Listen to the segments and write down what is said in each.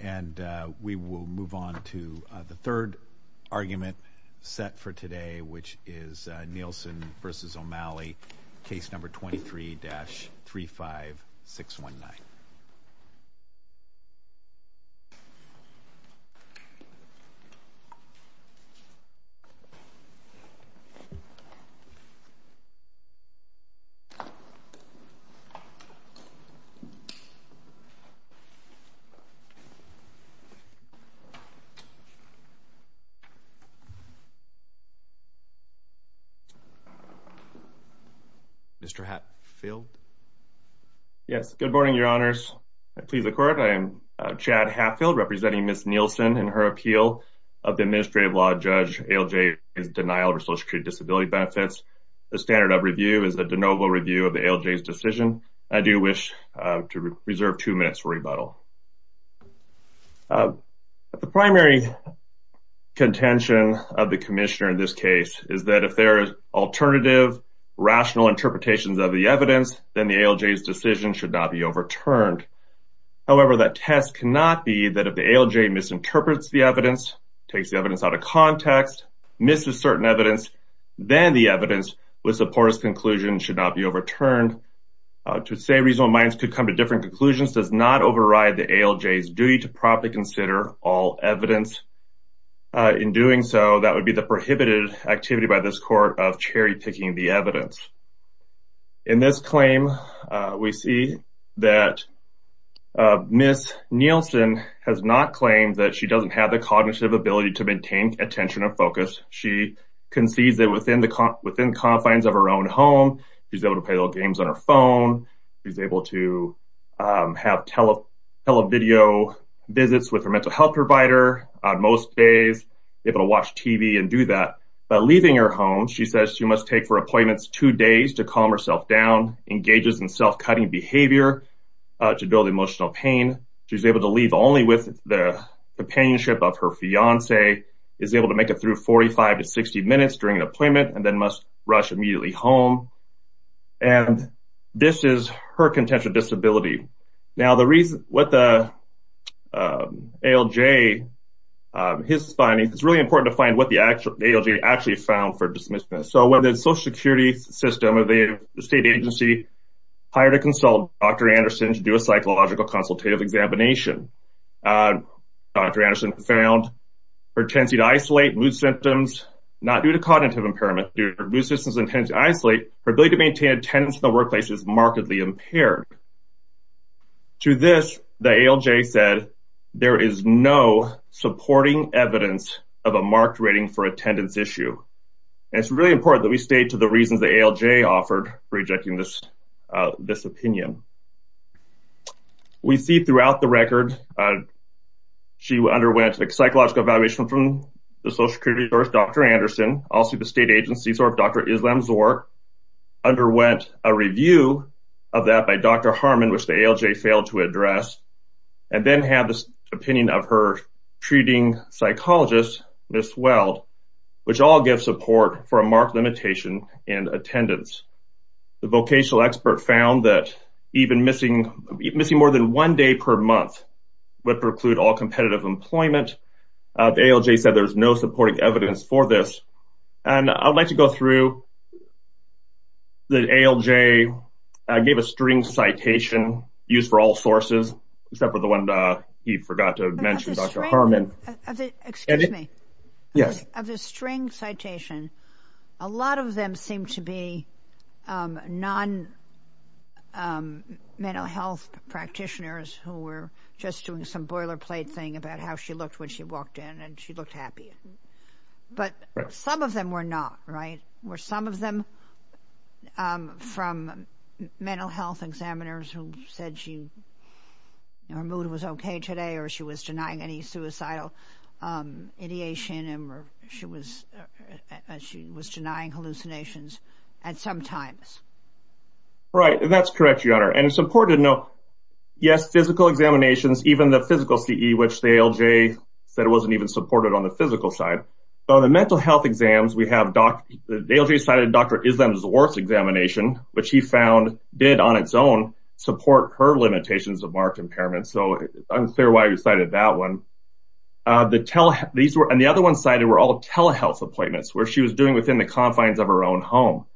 And we will move on to the third argument set for today, which is Nielsen v. O'Malley, case number 23-35619. Mr. Hatfield Yes, good morning, your honors. I plead the court. I am Chad Hatfield representing Ms. Nielsen in her appeal of the administrative law judge ALJ's denial of her social security disability benefits. The standard of review is a de novo review of the ALJ's decision. I do wish to reserve two minutes for rebuttal. The primary contention of the commissioner in this case is that if there are alternative rational interpretations of the evidence, then the ALJ's decision should not be overturned. However, that test cannot be that if the ALJ misinterprets the evidence, takes the evidence out of context, misses certain evidence, then the evidence with support conclusion should not be overturned. To say reasonable minds could come to different conclusions does not override the ALJ's duty to properly consider all evidence. In doing so, that would be the prohibited activity by this court of cherry picking the evidence. In this claim, we see that Ms. Nielsen has not claimed that she doesn't have the cognitive ability to maintain attention or focus. She concedes that within confines of her own home, she's able to play little games on her phone. She's able to have tele video visits with her mental health provider on most days, able to watch TV and do that. By leaving her home, she says she must take for appointments two days to calm herself down, engages in self-cutting behavior to build emotional pain. She's able to leave only with the companionship of her fiance, is able to make it through 45 to 60 minutes during an appointment, must rush immediately home. This is her contention disability. Now, the reason what the ALJ, his findings, it's really important to find what the ALJ actually found for dismissiveness. So, when the social security system of the state agency hired a consultant, Dr. Anderson, to do a psychological consultative examination, Dr. Anderson found her tendency to isolate mood symptoms, not due to cognitive impairment, due to mood symptoms and tendency to isolate, her ability to maintain attendance in the workplace is markedly impaired. To this, the ALJ said, there is no supporting evidence of a marked rating for attendance issue. It's really important that we stay to the reasons the ALJ offered for rejecting this opinion. We see throughout the record, she underwent a psychological evaluation from the social security source, Dr. Anderson, also the state agency source, Dr. Islam Zor, underwent a review of that by Dr. Harmon, which the ALJ failed to address, and then had this opinion of her treating psychologist, Ms. Weld, which all give support for a marked limitation in attendance. The vocational expert found that even missing more than one day per month would preclude all employment. The ALJ said there's no supporting evidence for this. I'd like to go through the ALJ gave a string citation used for all sources, except for the one he forgot to mention, Dr. Harmon. Excuse me. Yes. Of the string citation, a lot of them seem to be non-mental health practitioners who were just doing some boilerplate thing about how she looked when she walked in and she looked happy. But some of them were not, right? Were some of them from mental health examiners who said she, her mood was okay today, or she was denying any suicidal ideation, or she was denying hallucinations at some times. Right. That's correct, Your Honor. And it's important to know, yes, physical examinations, even the physical CE, which the ALJ said it wasn't even supported on the physical side. So the mental health exams, we have, the ALJ cited Dr. Islam Zor's examination, which he found did on its own support her limitations of marked impairment. So it's unclear why he cited that one. And the other one cited were all telehealth appointments, where she was doing within the confines of her own home.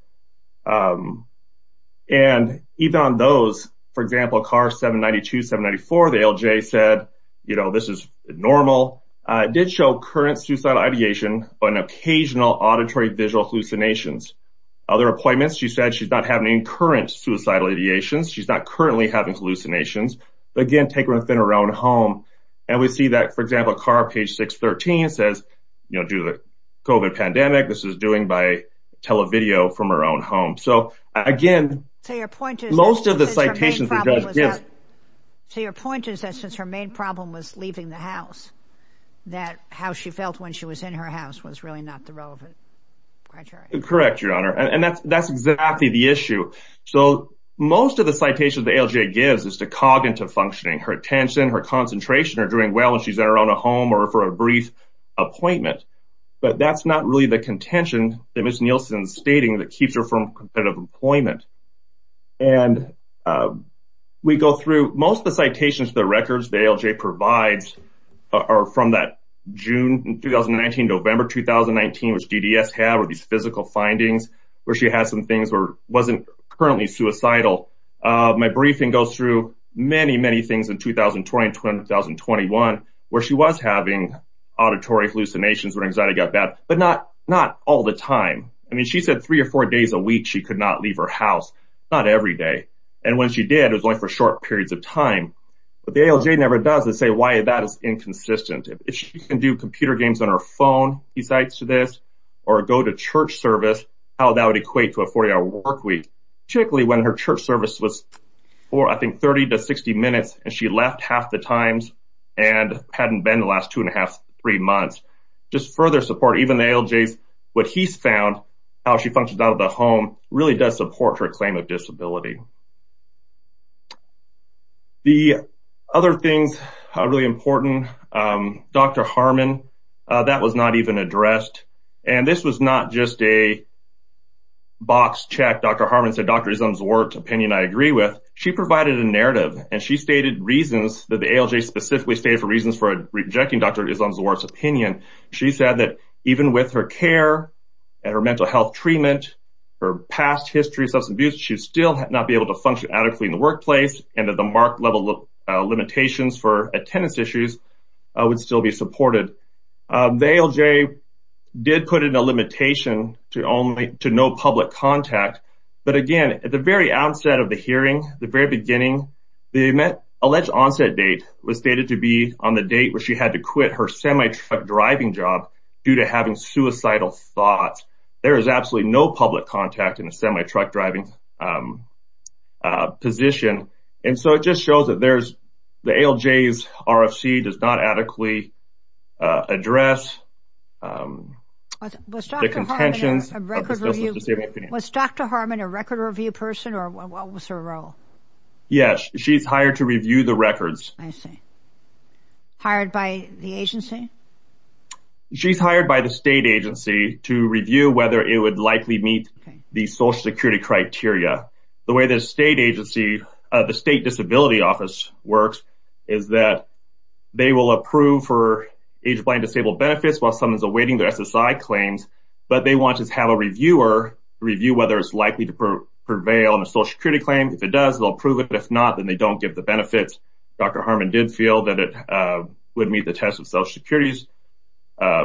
And even on those, for example, CAR-792, 794, the ALJ said, you know, this is normal. It did show current suicidal ideation, but an occasional auditory visual hallucinations. Other appointments, she said she's not having any current suicidal ideations. She's not currently having hallucinations. Again, taken within her home. And we see that, for example, CAR, page 613, says, you know, due to the COVID pandemic, this is doing by televideo from her own home. So again, most of the citations... So your point is that since her main problem was leaving the house, that how she felt when she was in her house was really not the relevant criteria. Correct, Your Honor. And that's exactly the issue. So most of the citations the ALJ gives is to cog into functioning. Her attention, her concentration are doing well when she's around a home or for a brief appointment. But that's not really the contention that Ms. Nielsen stating that keeps her from competitive employment. And we go through most of the citations, the records the ALJ provides are from that June 2019, November 2019, which DDS had with these physical findings, where she has some things where wasn't currently suicidal. My briefing goes through many, many things in 2020 and 2021, where she was having auditory hallucinations, where anxiety got bad, but not all the time. I mean, she said three or four days a week, she could not leave her house, not every day. And when she did, it was only for short periods of time. But the ALJ never does say why that is inconsistent. If she can do computer games on her phone, he cites to this, or go to church service, how that would equate to a 40 hour work week, particularly when her church service was for I think 30 to 60 minutes, and she left half the times and hadn't been the last two and a half, three months, just further support even the ALJs, what he's found, how she functions out of the home really does support her claim of disability. The other things are really important. Dr. Harmon, that was not even addressed. And this was not just a box check. Dr. Harmon said, Dr. Islam Zawart's opinion, I agree with. She provided a narrative, and she stated reasons that the ALJ specifically stated for reasons for rejecting Dr. Islam Zawart's opinion. She said that even with her care, and her mental health treatment, her past history of substance abuse, she would still not be able to function adequately in the workplace, and that the mark level limitations for attendance issues would still be supported. The ALJ did put in a limitation to no public contact. But again, at the very outset of the hearing, the very beginning, the alleged onset date was stated to be on the date where she had to quit her semi-truck driving job due to having suicidal thoughts. There is absolutely no public contact in a semi-truck driving position. And so it just shows that the ALJ's RFC does not adequately address the contentions of the substance disability opinion. Was Dr. Harmon a record review person, or what was her role? Yes, she's hired to review the records. I see. Hired by the agency? She's hired by the state agency to review whether it would likely meet the social security criteria. The way the state agency, the state disability office works, is that they will approve for age-blind disabled benefits while someone's awaiting their SSI claims, but they want to have a reviewer review whether it's likely to prevail on a social security claim. If it does, they'll approve it. If not, then they don't give the benefits. Dr. Harmon did feel that it would meet the test of social security's, I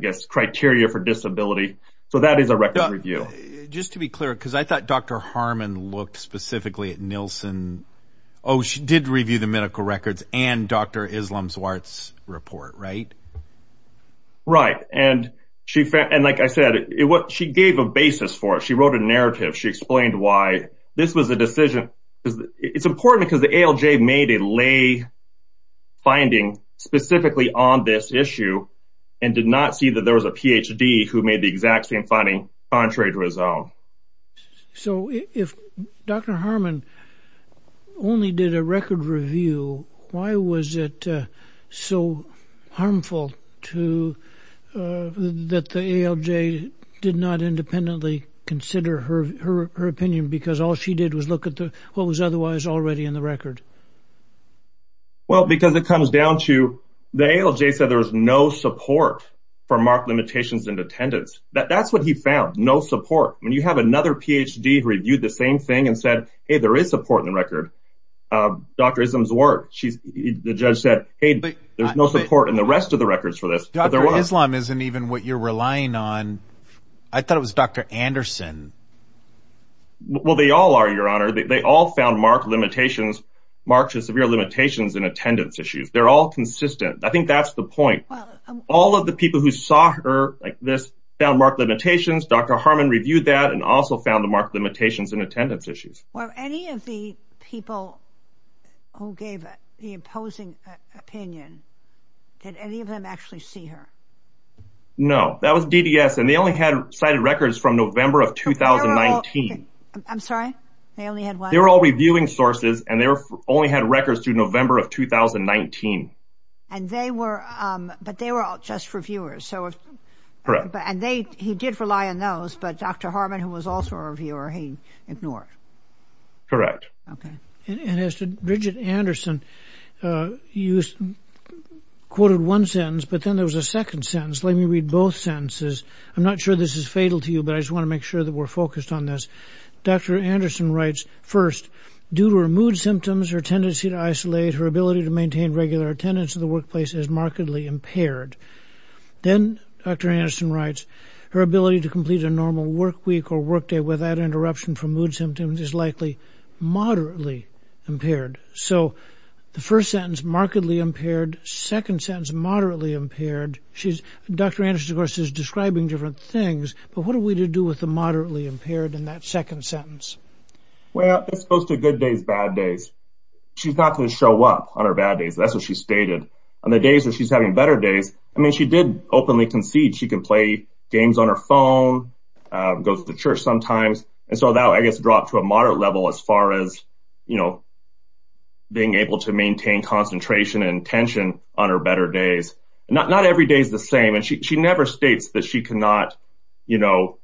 guess, criteria for disability. So that is a record review. Just to be clear, because I thought Dr. Harmon looked specifically at Nielsen. Oh, she did review the medical records and Dr. Islam Zwart's report, right? Right. And like I said, she gave a basis for it. She wrote a narrative. She explained why this was a decision. It's important because the ALJ made a lay finding specifically on this issue and did not see that there was a PhD who made the exact same finding contrary to his own. So if Dr. Harmon only did a record review, why was it so harmful that the ALJ did not independently consider her opinion because all she did was look at what was otherwise already in the record? Well, because it comes down to the ALJ said there was no support for mark limitations in attendance. That's what he found, no support. When you have another PhD who reviewed the same thing and said, hey, there is support in the record. Dr. Islam Zwart, the judge said, hey, there's no support in the rest of the records for this. Dr. Islam isn't even what you're relying on. I thought it was Dr. Anderson. Well, they all are, your honor. They all found limitations, severe limitations in attendance issues. They're all consistent. I think that's the point. All of the people who saw her like this found marked limitations. Dr. Harmon reviewed that and also found the marked limitations in attendance issues. Well, any of the people who gave the opposing opinion, did any of them actually see her? No, that was DDS and they only had cited records from November of 2019. I'm sorry, they only had one? They were all reviewing sources and they only had records to November of 2019. And they were, but they were all just reviewers. Correct. And they, he did rely on those, but Dr. Harmon, who was also a reviewer, he ignored. Correct. Okay. And as to Bridget Anderson, you quoted one sentence, but then there was a second sentence. Let me read both sentences. I'm not sure this is fatal to you, but I just want to make sure that we're focused on this. Dr. Anderson writes, first, due to her mood symptoms, her tendency to isolate, her ability to maintain regular attendance in the workplace is markedly impaired. Then Dr. Anderson writes, her ability to complete a normal work week or work day without interruption from mood symptoms is likely moderately impaired. So the first sentence, markedly impaired, second sentence, moderately impaired. She's, Dr. Anderson, of course, is describing different things, but what are we to do with the moderately impaired in that second sentence? Well, it's supposed to be good days, bad days. She's not going to show up on her bad days. That's what she stated. On the days where she's having better days, I mean, she did openly concede she can play games on her phone, go to the church sometimes. And so that, I guess, dropped to a moderate level as far as, you know, being able to maintain concentration and attention on her days. Not every day is the same. And she never states that she cannot, you know,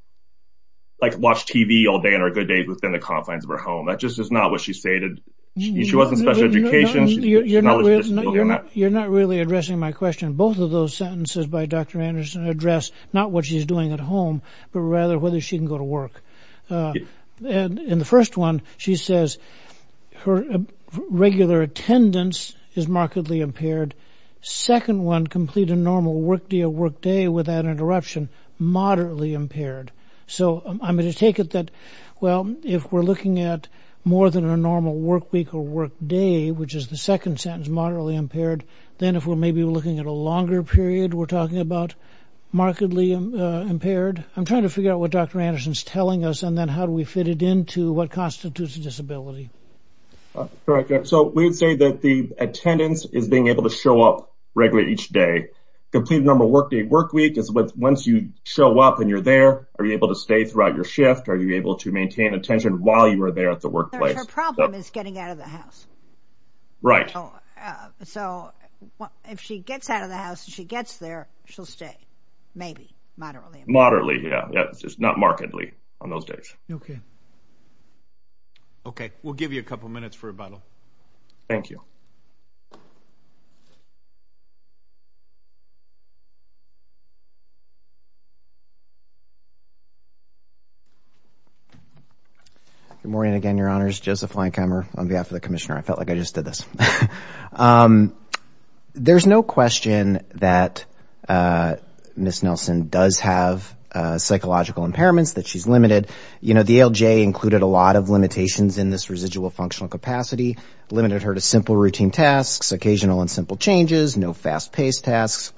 like watch TV all day and are good days within the confines of her home. That just is not what she stated. She wasn't special education. You're not really addressing my question. Both of those sentences by Dr. Anderson address not what she's doing at home, but rather whether she can go to work. And in the first one, she says her regular attendance is markedly impaired. Second one, complete a normal work day without interruption, moderately impaired. So I'm going to take it that, well, if we're looking at more than a normal work week or work day, which is the second sentence, moderately impaired, then if we're maybe looking at a longer period, we're talking about markedly impaired. I'm trying to figure out what Dr. Anderson's telling us, and then how do we fit it into what constitutes a disability? Correct. So we would say that the attendance is being able to show up regularly each day. Complete a normal work day. Work week is once you show up and you're there, are you able to stay throughout your shift? Are you able to maintain attention while you are there at the workplace? Her problem is getting out of the house. Right. So if she gets out of the maybe moderately, moderately. Yeah. Yeah. It's just not markedly on those days. Okay. Okay. We'll give you a couple of minutes for rebuttal. Thank you. Good morning again, your honors. Joseph Lankheimer on behalf of the commissioner. I felt like I just did this. There's no question that Ms. Nelson does have psychological impairments that she's limited. You know, the ALJ included a lot of limitations in this residual functional capacity, limited her to simple routine tasks, occasional and simple changes, no fast paced tasks,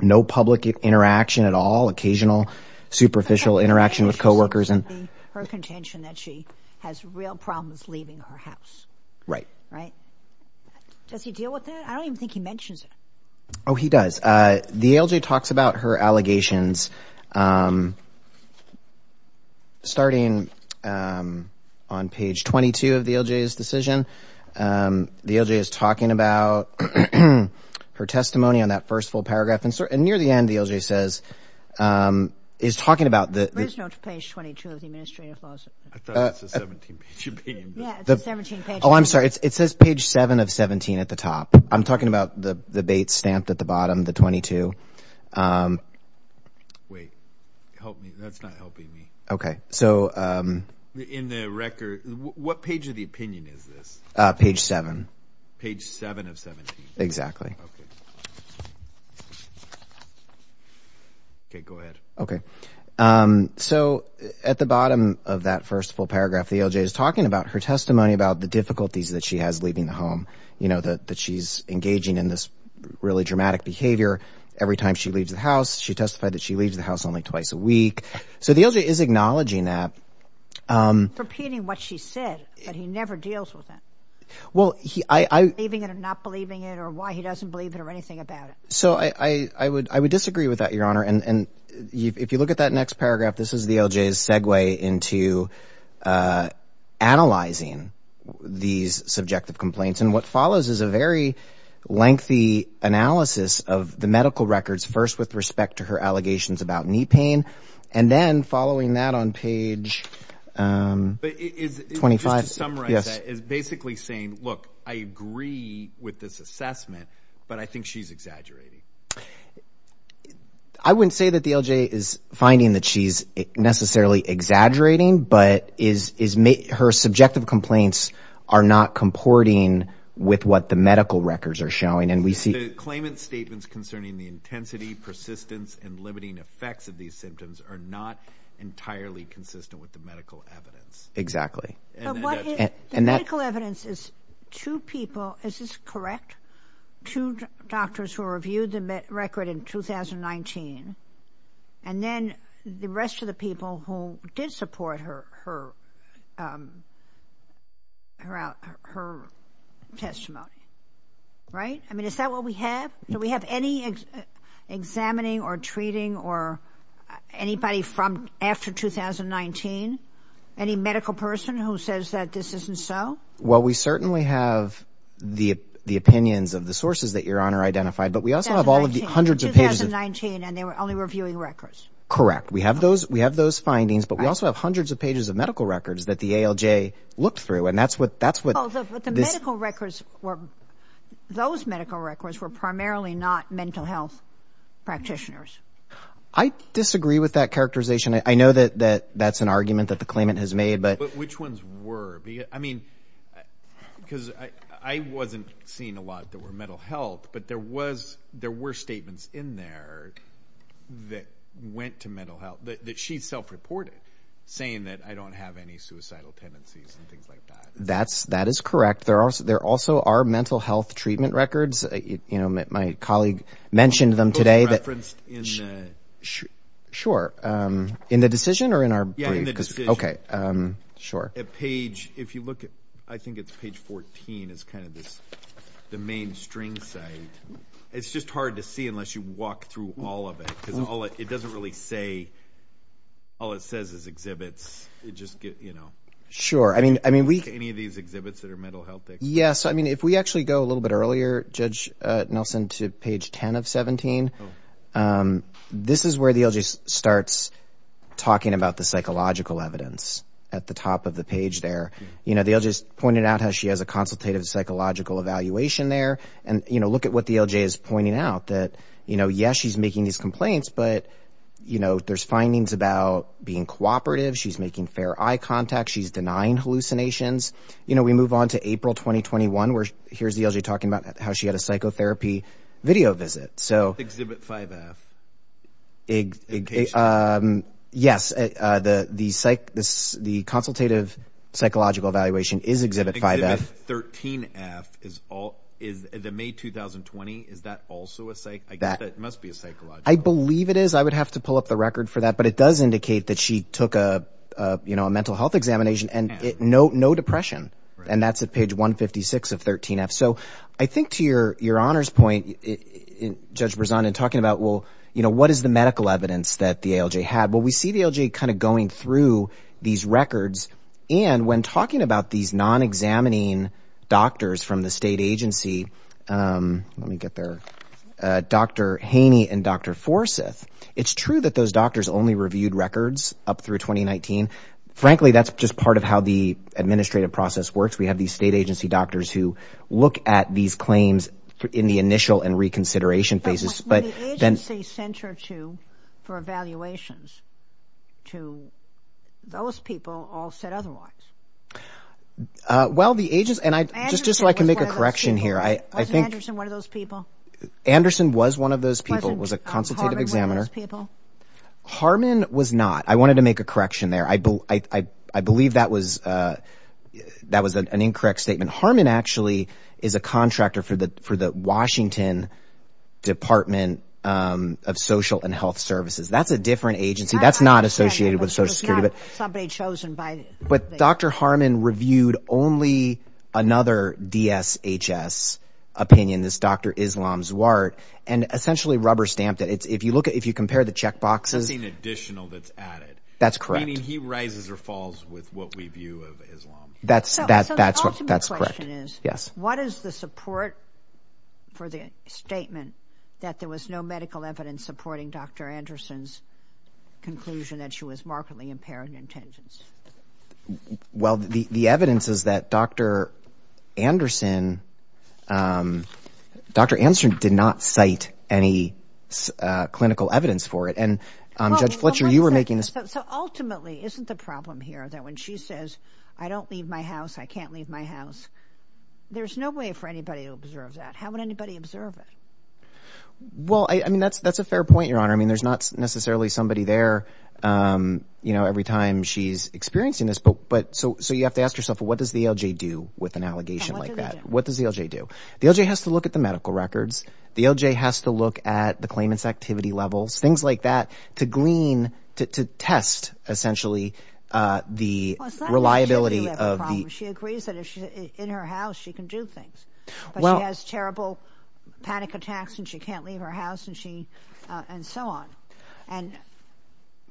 no public interaction at all, occasional superficial interaction with coworkers. Her contention that she has real problems leaving her house. Right. Right. Does he deal with that? I don't even think he mentions it. Oh, he does. The ALJ talks about her allegations starting on page 22 of the ALJ's decision. The ALJ is talking about her testimony on that first paragraph. And near the end, the ALJ says, is talking about the page 22 of the administrative laws. I thought it was a 17 page opinion. Oh, I'm sorry. It says page seven of 17 at the top. I'm talking about the bait stamped at the bottom, the 22. Wait, help me. That's not helping me. Okay. So in the record, what page of the opinion is this? Page seven. Page seven of 17. Exactly. Okay. Go ahead. Okay. So at the bottom of that first full paragraph, the ALJ is talking about her testimony about the difficulties that she has leaving the home. You know, that she's engaging in this really dramatic behavior every time she leaves the house. She testified that she leaves the house only twice a week. So the ALJ is acknowledging that. Repeating what she said, but he never deals with that. Well, I. Believing it or not believing it or why he doesn't believe it or anything about it. So I would, I would disagree with that, your honor. And if you look at that next paragraph, this is the ALJ's segue into analyzing these subjective complaints. And what follows is a very lengthy analysis of the medical records. First, with respect to her allegations about knee pain. And then following that on page 25. It's basically saying, look, I agree with this assessment, but I think she's exaggerating. I wouldn't say that the ALJ is finding that she's necessarily exaggerating, but is, is her subjective complaints are not comporting with what the medical records are showing. And we see. The claimant statements concerning the intensity, persistence, and limiting effects of these symptoms are not entirely consistent with the medical evidence. Exactly. And that. Medical evidence is two people. Is this correct? Two doctors who reviewed the record in 2019. And then the rest of the people who did support her, her. Her testimony. Right. I mean, is that what we have? Do we have any examining or treating or anybody from after 2019? Any medical person who says that this isn't so? Well, we certainly have the, the opinions of the sources that your honor identified, but we also have all of the hundreds of pages. And they were only reviewing records. Correct. We have those, we have those findings, but we also have hundreds of pages of medical records that the ALJ looked through. And that's what, that's what the medical records were. Those medical records were primarily not mental health practitioners. I disagree with that characterization. I know that, that that's an argument that the claimant has made, but which ones were, I mean, because I, I wasn't seeing a lot that were mental health, but there was, there were statements in there that went to mental health that she's self-reported saying that I don't have any suicidal tendencies and things like that. That's that is correct. There are, there also are mental health treatment records. You know, my colleague mentioned them today that. Sure. In the decision or in our brief? Okay. Sure. A page, if you look at, I think it's page 14 is kind of this, the main string site. It's just hard to see unless you walk through all of it because all it, it doesn't really say, all it says is exhibits. It just gets, you know. Sure. I mean, I mean, we. Any of these exhibits that are mental health. Yes. I mean, if we actually go a little bit earlier, Nelson to page 10 of 17 this is where the LJ starts talking about the psychological evidence at the top of the page there, you know, they'll just pointed out how she has a consultative psychological evaluation there. And, you know, look at what the LJ is pointing out that, you know, yes, she's making these complaints, but, you know, there's findings about being cooperative. She's making fair eye contact. She's denying hallucinations. You know, we move on to April, 2021, where here's the LJ talking about how she had a psychotherapy video visit. So. Exhibit 5F. Yes. The, the psych, this, the consultative psychological evaluation is exhibit 5F. 13F is all is the May, 2020. Is that also a psych? I guess that must be a psychological. I believe it is. I would have to pull up the record for that, but it does indicate that she took a, a, you know, a mental health examination and no, no depression. And that's at page 156 of 13F. So I think to your, your honor's point, Judge Berzon and talking about, well, you know, what is the medical evidence that the ALJ had? Well, we see the LJ kind of going through these records and when talking about these non-examining doctors from the state agency let me get there. Dr. Haney and Dr. Forsyth. It's true that those doctors only reviewed records up through 2019. Frankly, that's just part of how the administrative process works. We have these state agency doctors who look at these claims in the initial and reconsideration phases. But when the agency sent her to, for evaluations to those people all said otherwise. Well, the agents and I just, just so I can make a correction here. I, I think. Wasn't Anderson one of those people? Anderson was one of those people, a consultative examiner. Harmon was not. I wanted to make a correction there. I, I, I, I believe that was that was an incorrect statement. Harmon actually is a contractor for the, for the Washington department of social and health services. That's a different agency. That's not associated with social security, but somebody chosen by, but Dr. Harmon reviewed only another DSHS opinion, this Dr. Islam Zwart and essentially rubber stamped it. It's, if you look at, if you compare the checkboxes. It's an additional that's added. That's correct. He rises or falls with what we view of Islam. That's that, that's what that's correct. Yes. What is the support for the statement that there was no medical evidence supporting Dr. Anderson's conclusion that she was markedly impaired in attendance? Well, the, the evidence is that Dr. Anderson, Dr. Anderson did not cite any clinical evidence for it. And Judge Fletcher, you were making this. So ultimately, isn't the problem here that when she says, I don't leave my house, I can't leave my house. There's no way for anybody to observe that. How would anybody observe it? Well, I mean, that's, that's a fair point, Your Honor. I mean, there's not necessarily somebody there, you know, every time she's experiencing this, but, but so, so you have to ask yourself, what does the LJ do with an allegation like that? What does the LJ do? The LJ has to look at the medical records. The LJ has to look at the claimants activity levels, things like that to glean, to test essentially the reliability of the, she agrees that if she's in her house, she can do things, but she has terrible panic attacks and she can't leave her house and she, and so on. And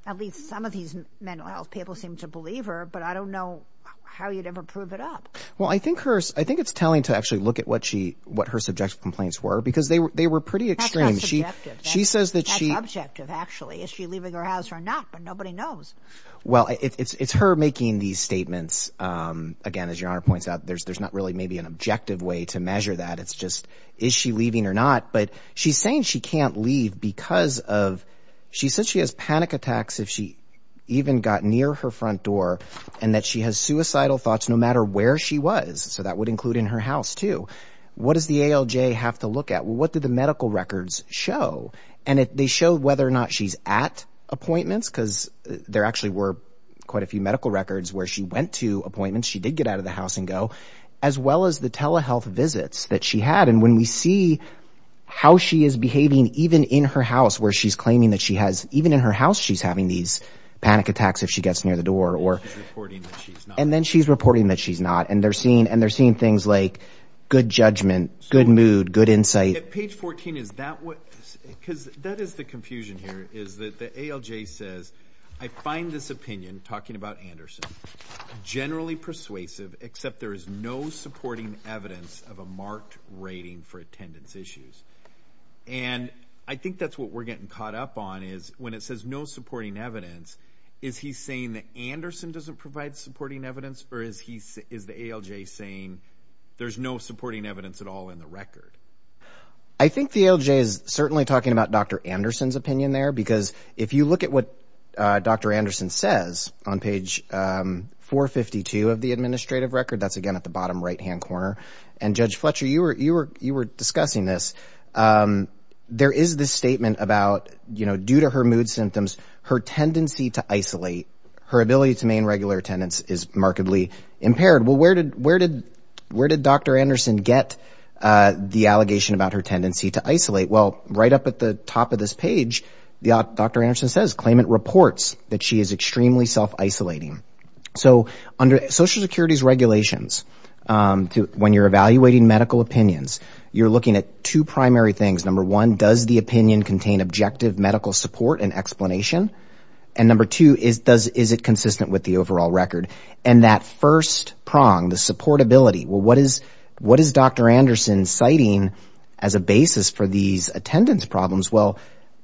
at least some of these mental health people seem to believe her, but I don't know how you'd ever prove it up. Well, I think her, I think it's telling to actually look at what she, what her subjective complaints were because they were, they were pretty extreme. She, she says that she, that's objective actually, is she leaving her house or not, but nobody knows. Well, it's, it's, it's her making these statements. Um, again, as Your Honor points out, there's, there's not really maybe an objective way to measure that. It's just, is she leaving or not? But she's saying she can't leave because of, she said she has panic attacks if she even got near her front door and that she has suicidal thoughts no matter where she was. So that would include in her house too. What does the ALJ have to look at? Well, what did the medical records show? And if they show whether or not she's at appointments, cause there actually were quite a few medical records where she went to appointments, she did get out of the house and go, as well as the telehealth visits that she had. And when we see how she is behaving, even in her house where she's claiming that she has, even in her house, she's having these panic attacks if she gets near the door or, and then she's reporting that she's not. And they're seeing, and they're seeing things like good judgment, good mood, good insight. Page 14. Is that what, cause that is the confusion here is that the ALJ says, I find this opinion, talking about Anderson, generally persuasive, except there is no supporting evidence of a marked rating for attendance issues. And I think that's what we're getting caught up on is when it says no supporting evidence, is he saying that Anderson doesn't provide supporting evidence or is he, is the ALJ saying there's no supporting evidence at all in the record? I think the ALJ is certainly talking about Dr. Anderson's opinion there, because if you look at what Dr. Anderson says on page 452 of the administrative record, that's again at the bottom right-hand corner. And Judge Fletcher, you were, you were, you were discussing this. There is this statement about, you know, due to her mood symptoms, her tendency to isolate, her ability to maintain regular attendance is markedly impaired. Well, where did, where did, where did Dr. Anderson get the allegation about her tendency to isolate? Well, right up at the top of this page, Dr. Anderson says, claimant reports that she is extremely self-isolating. So under Social Security's regulations, when you're evaluating medical opinions, you're looking at two primary things. Number one, does the opinion contain objective medical support and explanation? And number two, is, does, is it consistent with the overall record? And that first prong, the supportability, well, what is, what is Dr. Anderson citing as a basis for these attendance problems? Well,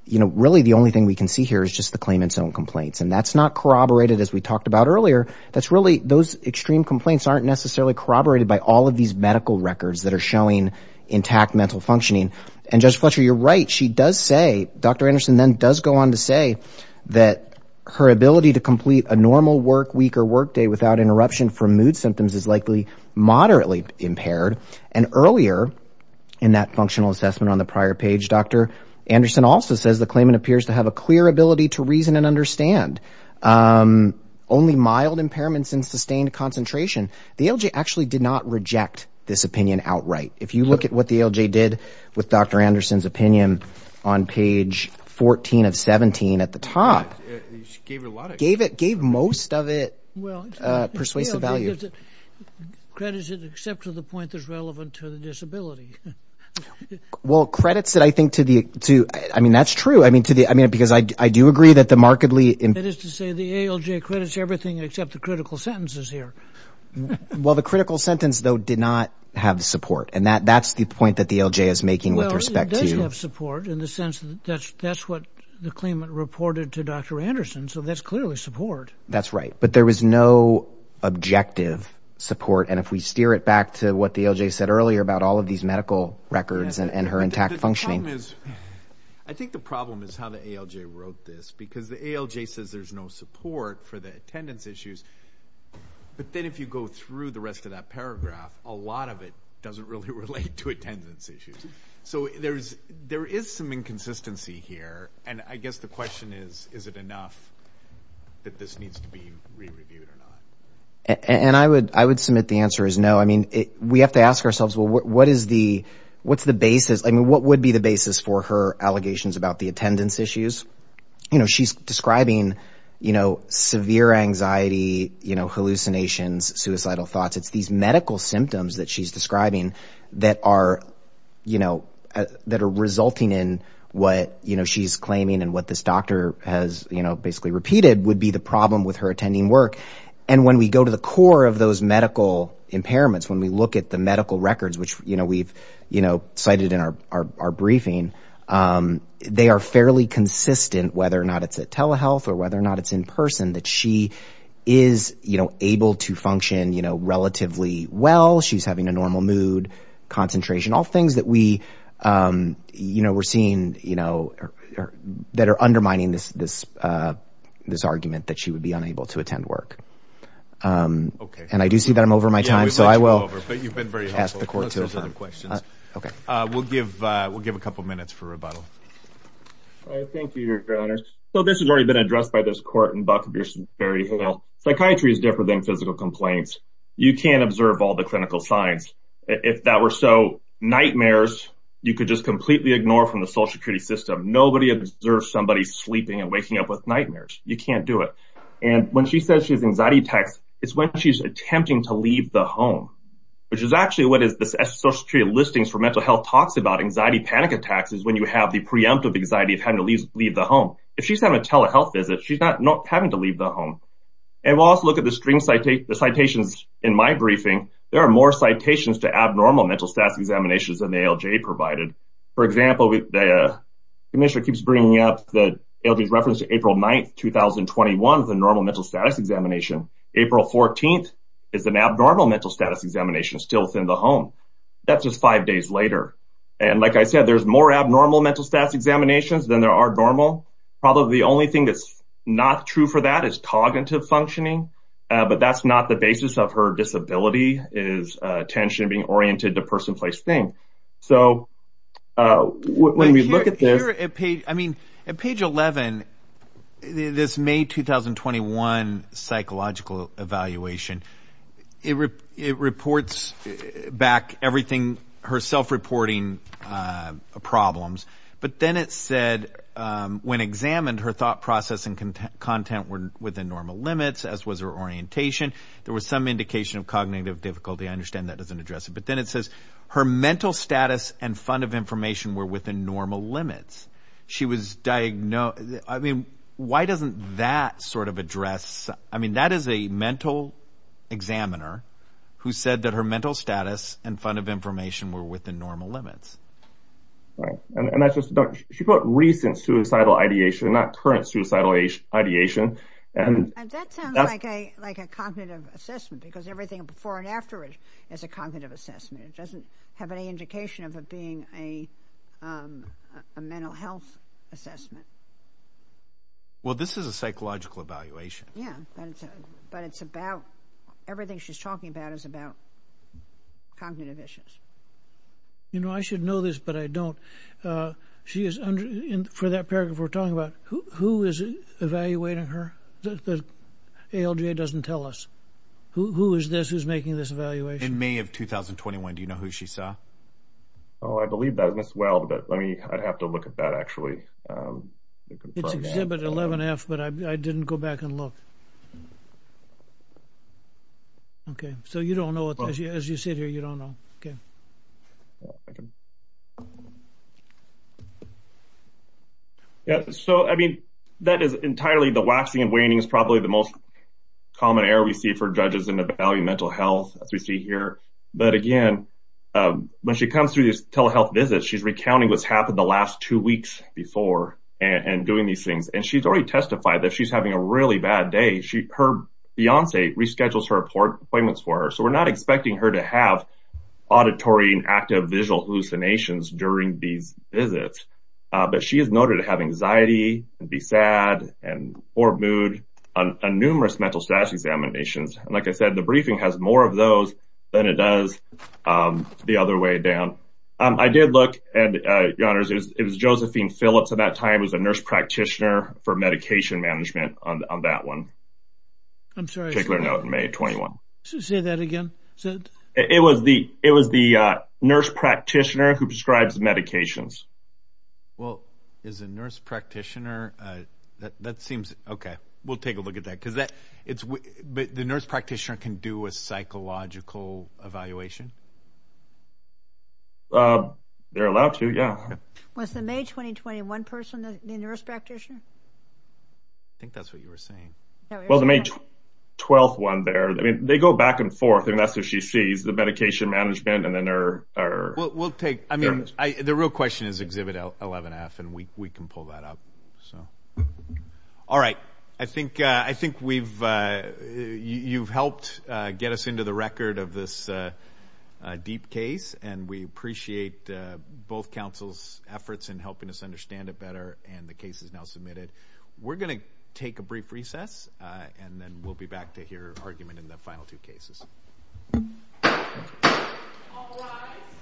you know, really the only thing we can see here is just the claimant's own complaints. And that's not corroborated as we talked about earlier. That's really, those extreme complaints aren't necessarily corroborated by all of these medical records that are showing intact mental functioning. And Judge Fletcher, you're right. She does say, Dr. Anderson then does go on to say that her ability to complete a normal work week or work day without interruption from mood symptoms is likely moderately impaired. And earlier in that functional assessment on the prior page, Dr. Anderson also says the claimant appears to have a clear ability to reason and understand only mild impairments in sustained concentration. The ALJ actually did not reject this opinion outright. If you look at what the ALJ did with Dr. Anderson's opinion on page 14 of 17 at the top, gave it, gave most of it persuasive value. Credits it except to the point that's relevant to the disability. Well, credits that I think to the, to, I mean, that's true. I mean, to the, I mean, because I do agree that the markedly... That is to say the ALJ credits everything except the critical sentences here. Well, the critical sentence though, did not have support. And that, that's the point that the ALJ is making with respect to... Well, it does have support in the sense that that's, that's what the claimant reported to Dr. Anderson. So that's clearly support. That's right. But there was no objective support. And if we steer it back to what the ALJ said earlier about all of these medical records and her intact functioning... The problem is, I think the problem is how the ALJ wrote this because the ALJ says there's no support for the attendance issues. But then if you go through the rest of that paragraph, a lot of it doesn't really relate to attendance issues. So there's, there is some inconsistency here. And I guess the question is, is it enough that this needs to be re-reviewed and I would, I would submit the answer is no. I mean, we have to ask ourselves, well, what is the, what's the basis? I mean, what would be the basis for her allegations about the attendance issues? You know, she's describing, you know, severe anxiety, you know, hallucinations, suicidal thoughts. It's these medical symptoms that she's describing that are, you know, that are resulting in what, you know, she's claiming and what this doctor has, you know, basically repeated would the problem with her attending work. And when we go to the core of those medical impairments, when we look at the medical records, which, you know, we've, you know, cited in our, our, our briefing, they are fairly consistent, whether or not it's a telehealth or whether or not it's in person that she is, you know, able to function, you know, relatively well. She's having a normal mood, concentration, all things that we, you know, we're seeing, you know, that are undermining this, this argument that she would be unable to attend work. Okay. And I do see that I'm over my time. So I will, but you've been very asked the court. Okay. We'll give, we'll give a couple of minutes for rebuttal. All right. Thank you, your honor. So this has already been addressed by this court and Buck Pearson, Barry Hill. Psychiatry is different than physical complaints. You can observe all the clinical signs. If that were so nightmares, you could just completely ignore from the social security system. Nobody observes somebody sleeping and waking up with nightmares. You can't do it. And when she says she has anxiety attacks, it's when she's attempting to leave the home, which is actually what is this social security listings for mental health talks about anxiety panic attacks is when you have the preemptive anxiety of having to leave the home. If she's having a telehealth visit, she's not not having to leave the home. And we'll also look at the string citate the citations in my briefing. There are more citations to abnormal mental examinations than the ALJ provided. For example, the commissioner keeps bringing up the ALJ's reference to April 9th, 2021, the normal mental status examination. April 14th is an abnormal mental status examination still within the home. That's just five days later. And like I said, there's more abnormal mental status examinations than there are normal. Probably the only thing that's not true for that is cognitive functioning. But that's not the basis of her disability is attention being oriented to person, place, thing. So when we look at this, I mean, at page 11, this May 2021 psychological evaluation, it reports back everything herself reporting problems. But then it said when examined, her thought process and content were within normal limits, as was her orientation. There was some indication of cognitive difficulty. I understand that doesn't address it. But then it says her mental status and fund of information were within normal limits. She was diagnosed. I mean, why doesn't that sort of address? I mean, that is a mental examiner who said that her mental status and fund of information were within normal limits. Right. And that's just she put recent suicidal ideation, not current suicidal ideation. And that sounds like a like a cognitive assessment, because everything before and afterwards is a cognitive assessment. It doesn't have any indication of it being a mental health assessment. Well, this is a psychological evaluation. Yeah, but it's about everything she's talking about is about cognitive issues. You know, I should know this, but I don't. She is under for that paragraph we're talking about who is evaluating her. The ALJ doesn't tell us who is this is making this evaluation in May of 2021. Do you know who she saw? Oh, I believe that as well. But let me I'd have to look at that, actually. It's exhibit 11 F, but I didn't go back and look. OK, so you don't know what you as you sit here, you don't know. OK. OK. Yeah, so, I mean, that is entirely the waxing and waning is probably the most common error we see for judges in evaluating mental health, as we see here. But again, when she comes through this telehealth visit, she's recounting what's happened the last two weeks before and doing these things. And she's already testified that she's having a really bad day. Her fiance reschedules her appointments for her. So we're not expecting her to have auditory and active visual hallucinations during these visits. But she is noted to have anxiety and be sad and poor mood on numerous mental status examinations. And like I said, the briefing has more of those than it does the other way down. I did look and it was Josephine Phillips at that time was a nurse practitioner for medication management on that one. I'm sorry. Take note. May 21. Say that again. It was the it was the nurse practitioner who prescribes medications. Well, as a nurse practitioner, that seems OK. We'll take a look at that because it's the nurse practitioner can do a psychological evaluation. They're allowed to. Yeah. Was the May 2021 person the nurse practitioner? I think that's what you were saying. Well, the May 12 one there, I mean, they go back and forth. And that's if she sees the medication management and then there are we'll take. I mean, the real question is exhibit 11 F and we can pull that up. So. All right. I think I think we've you've helped get us into the record of this deep case. And we appreciate both council's efforts in helping us We're going to take a brief recess and then we'll be back to hear argument in the final two cases.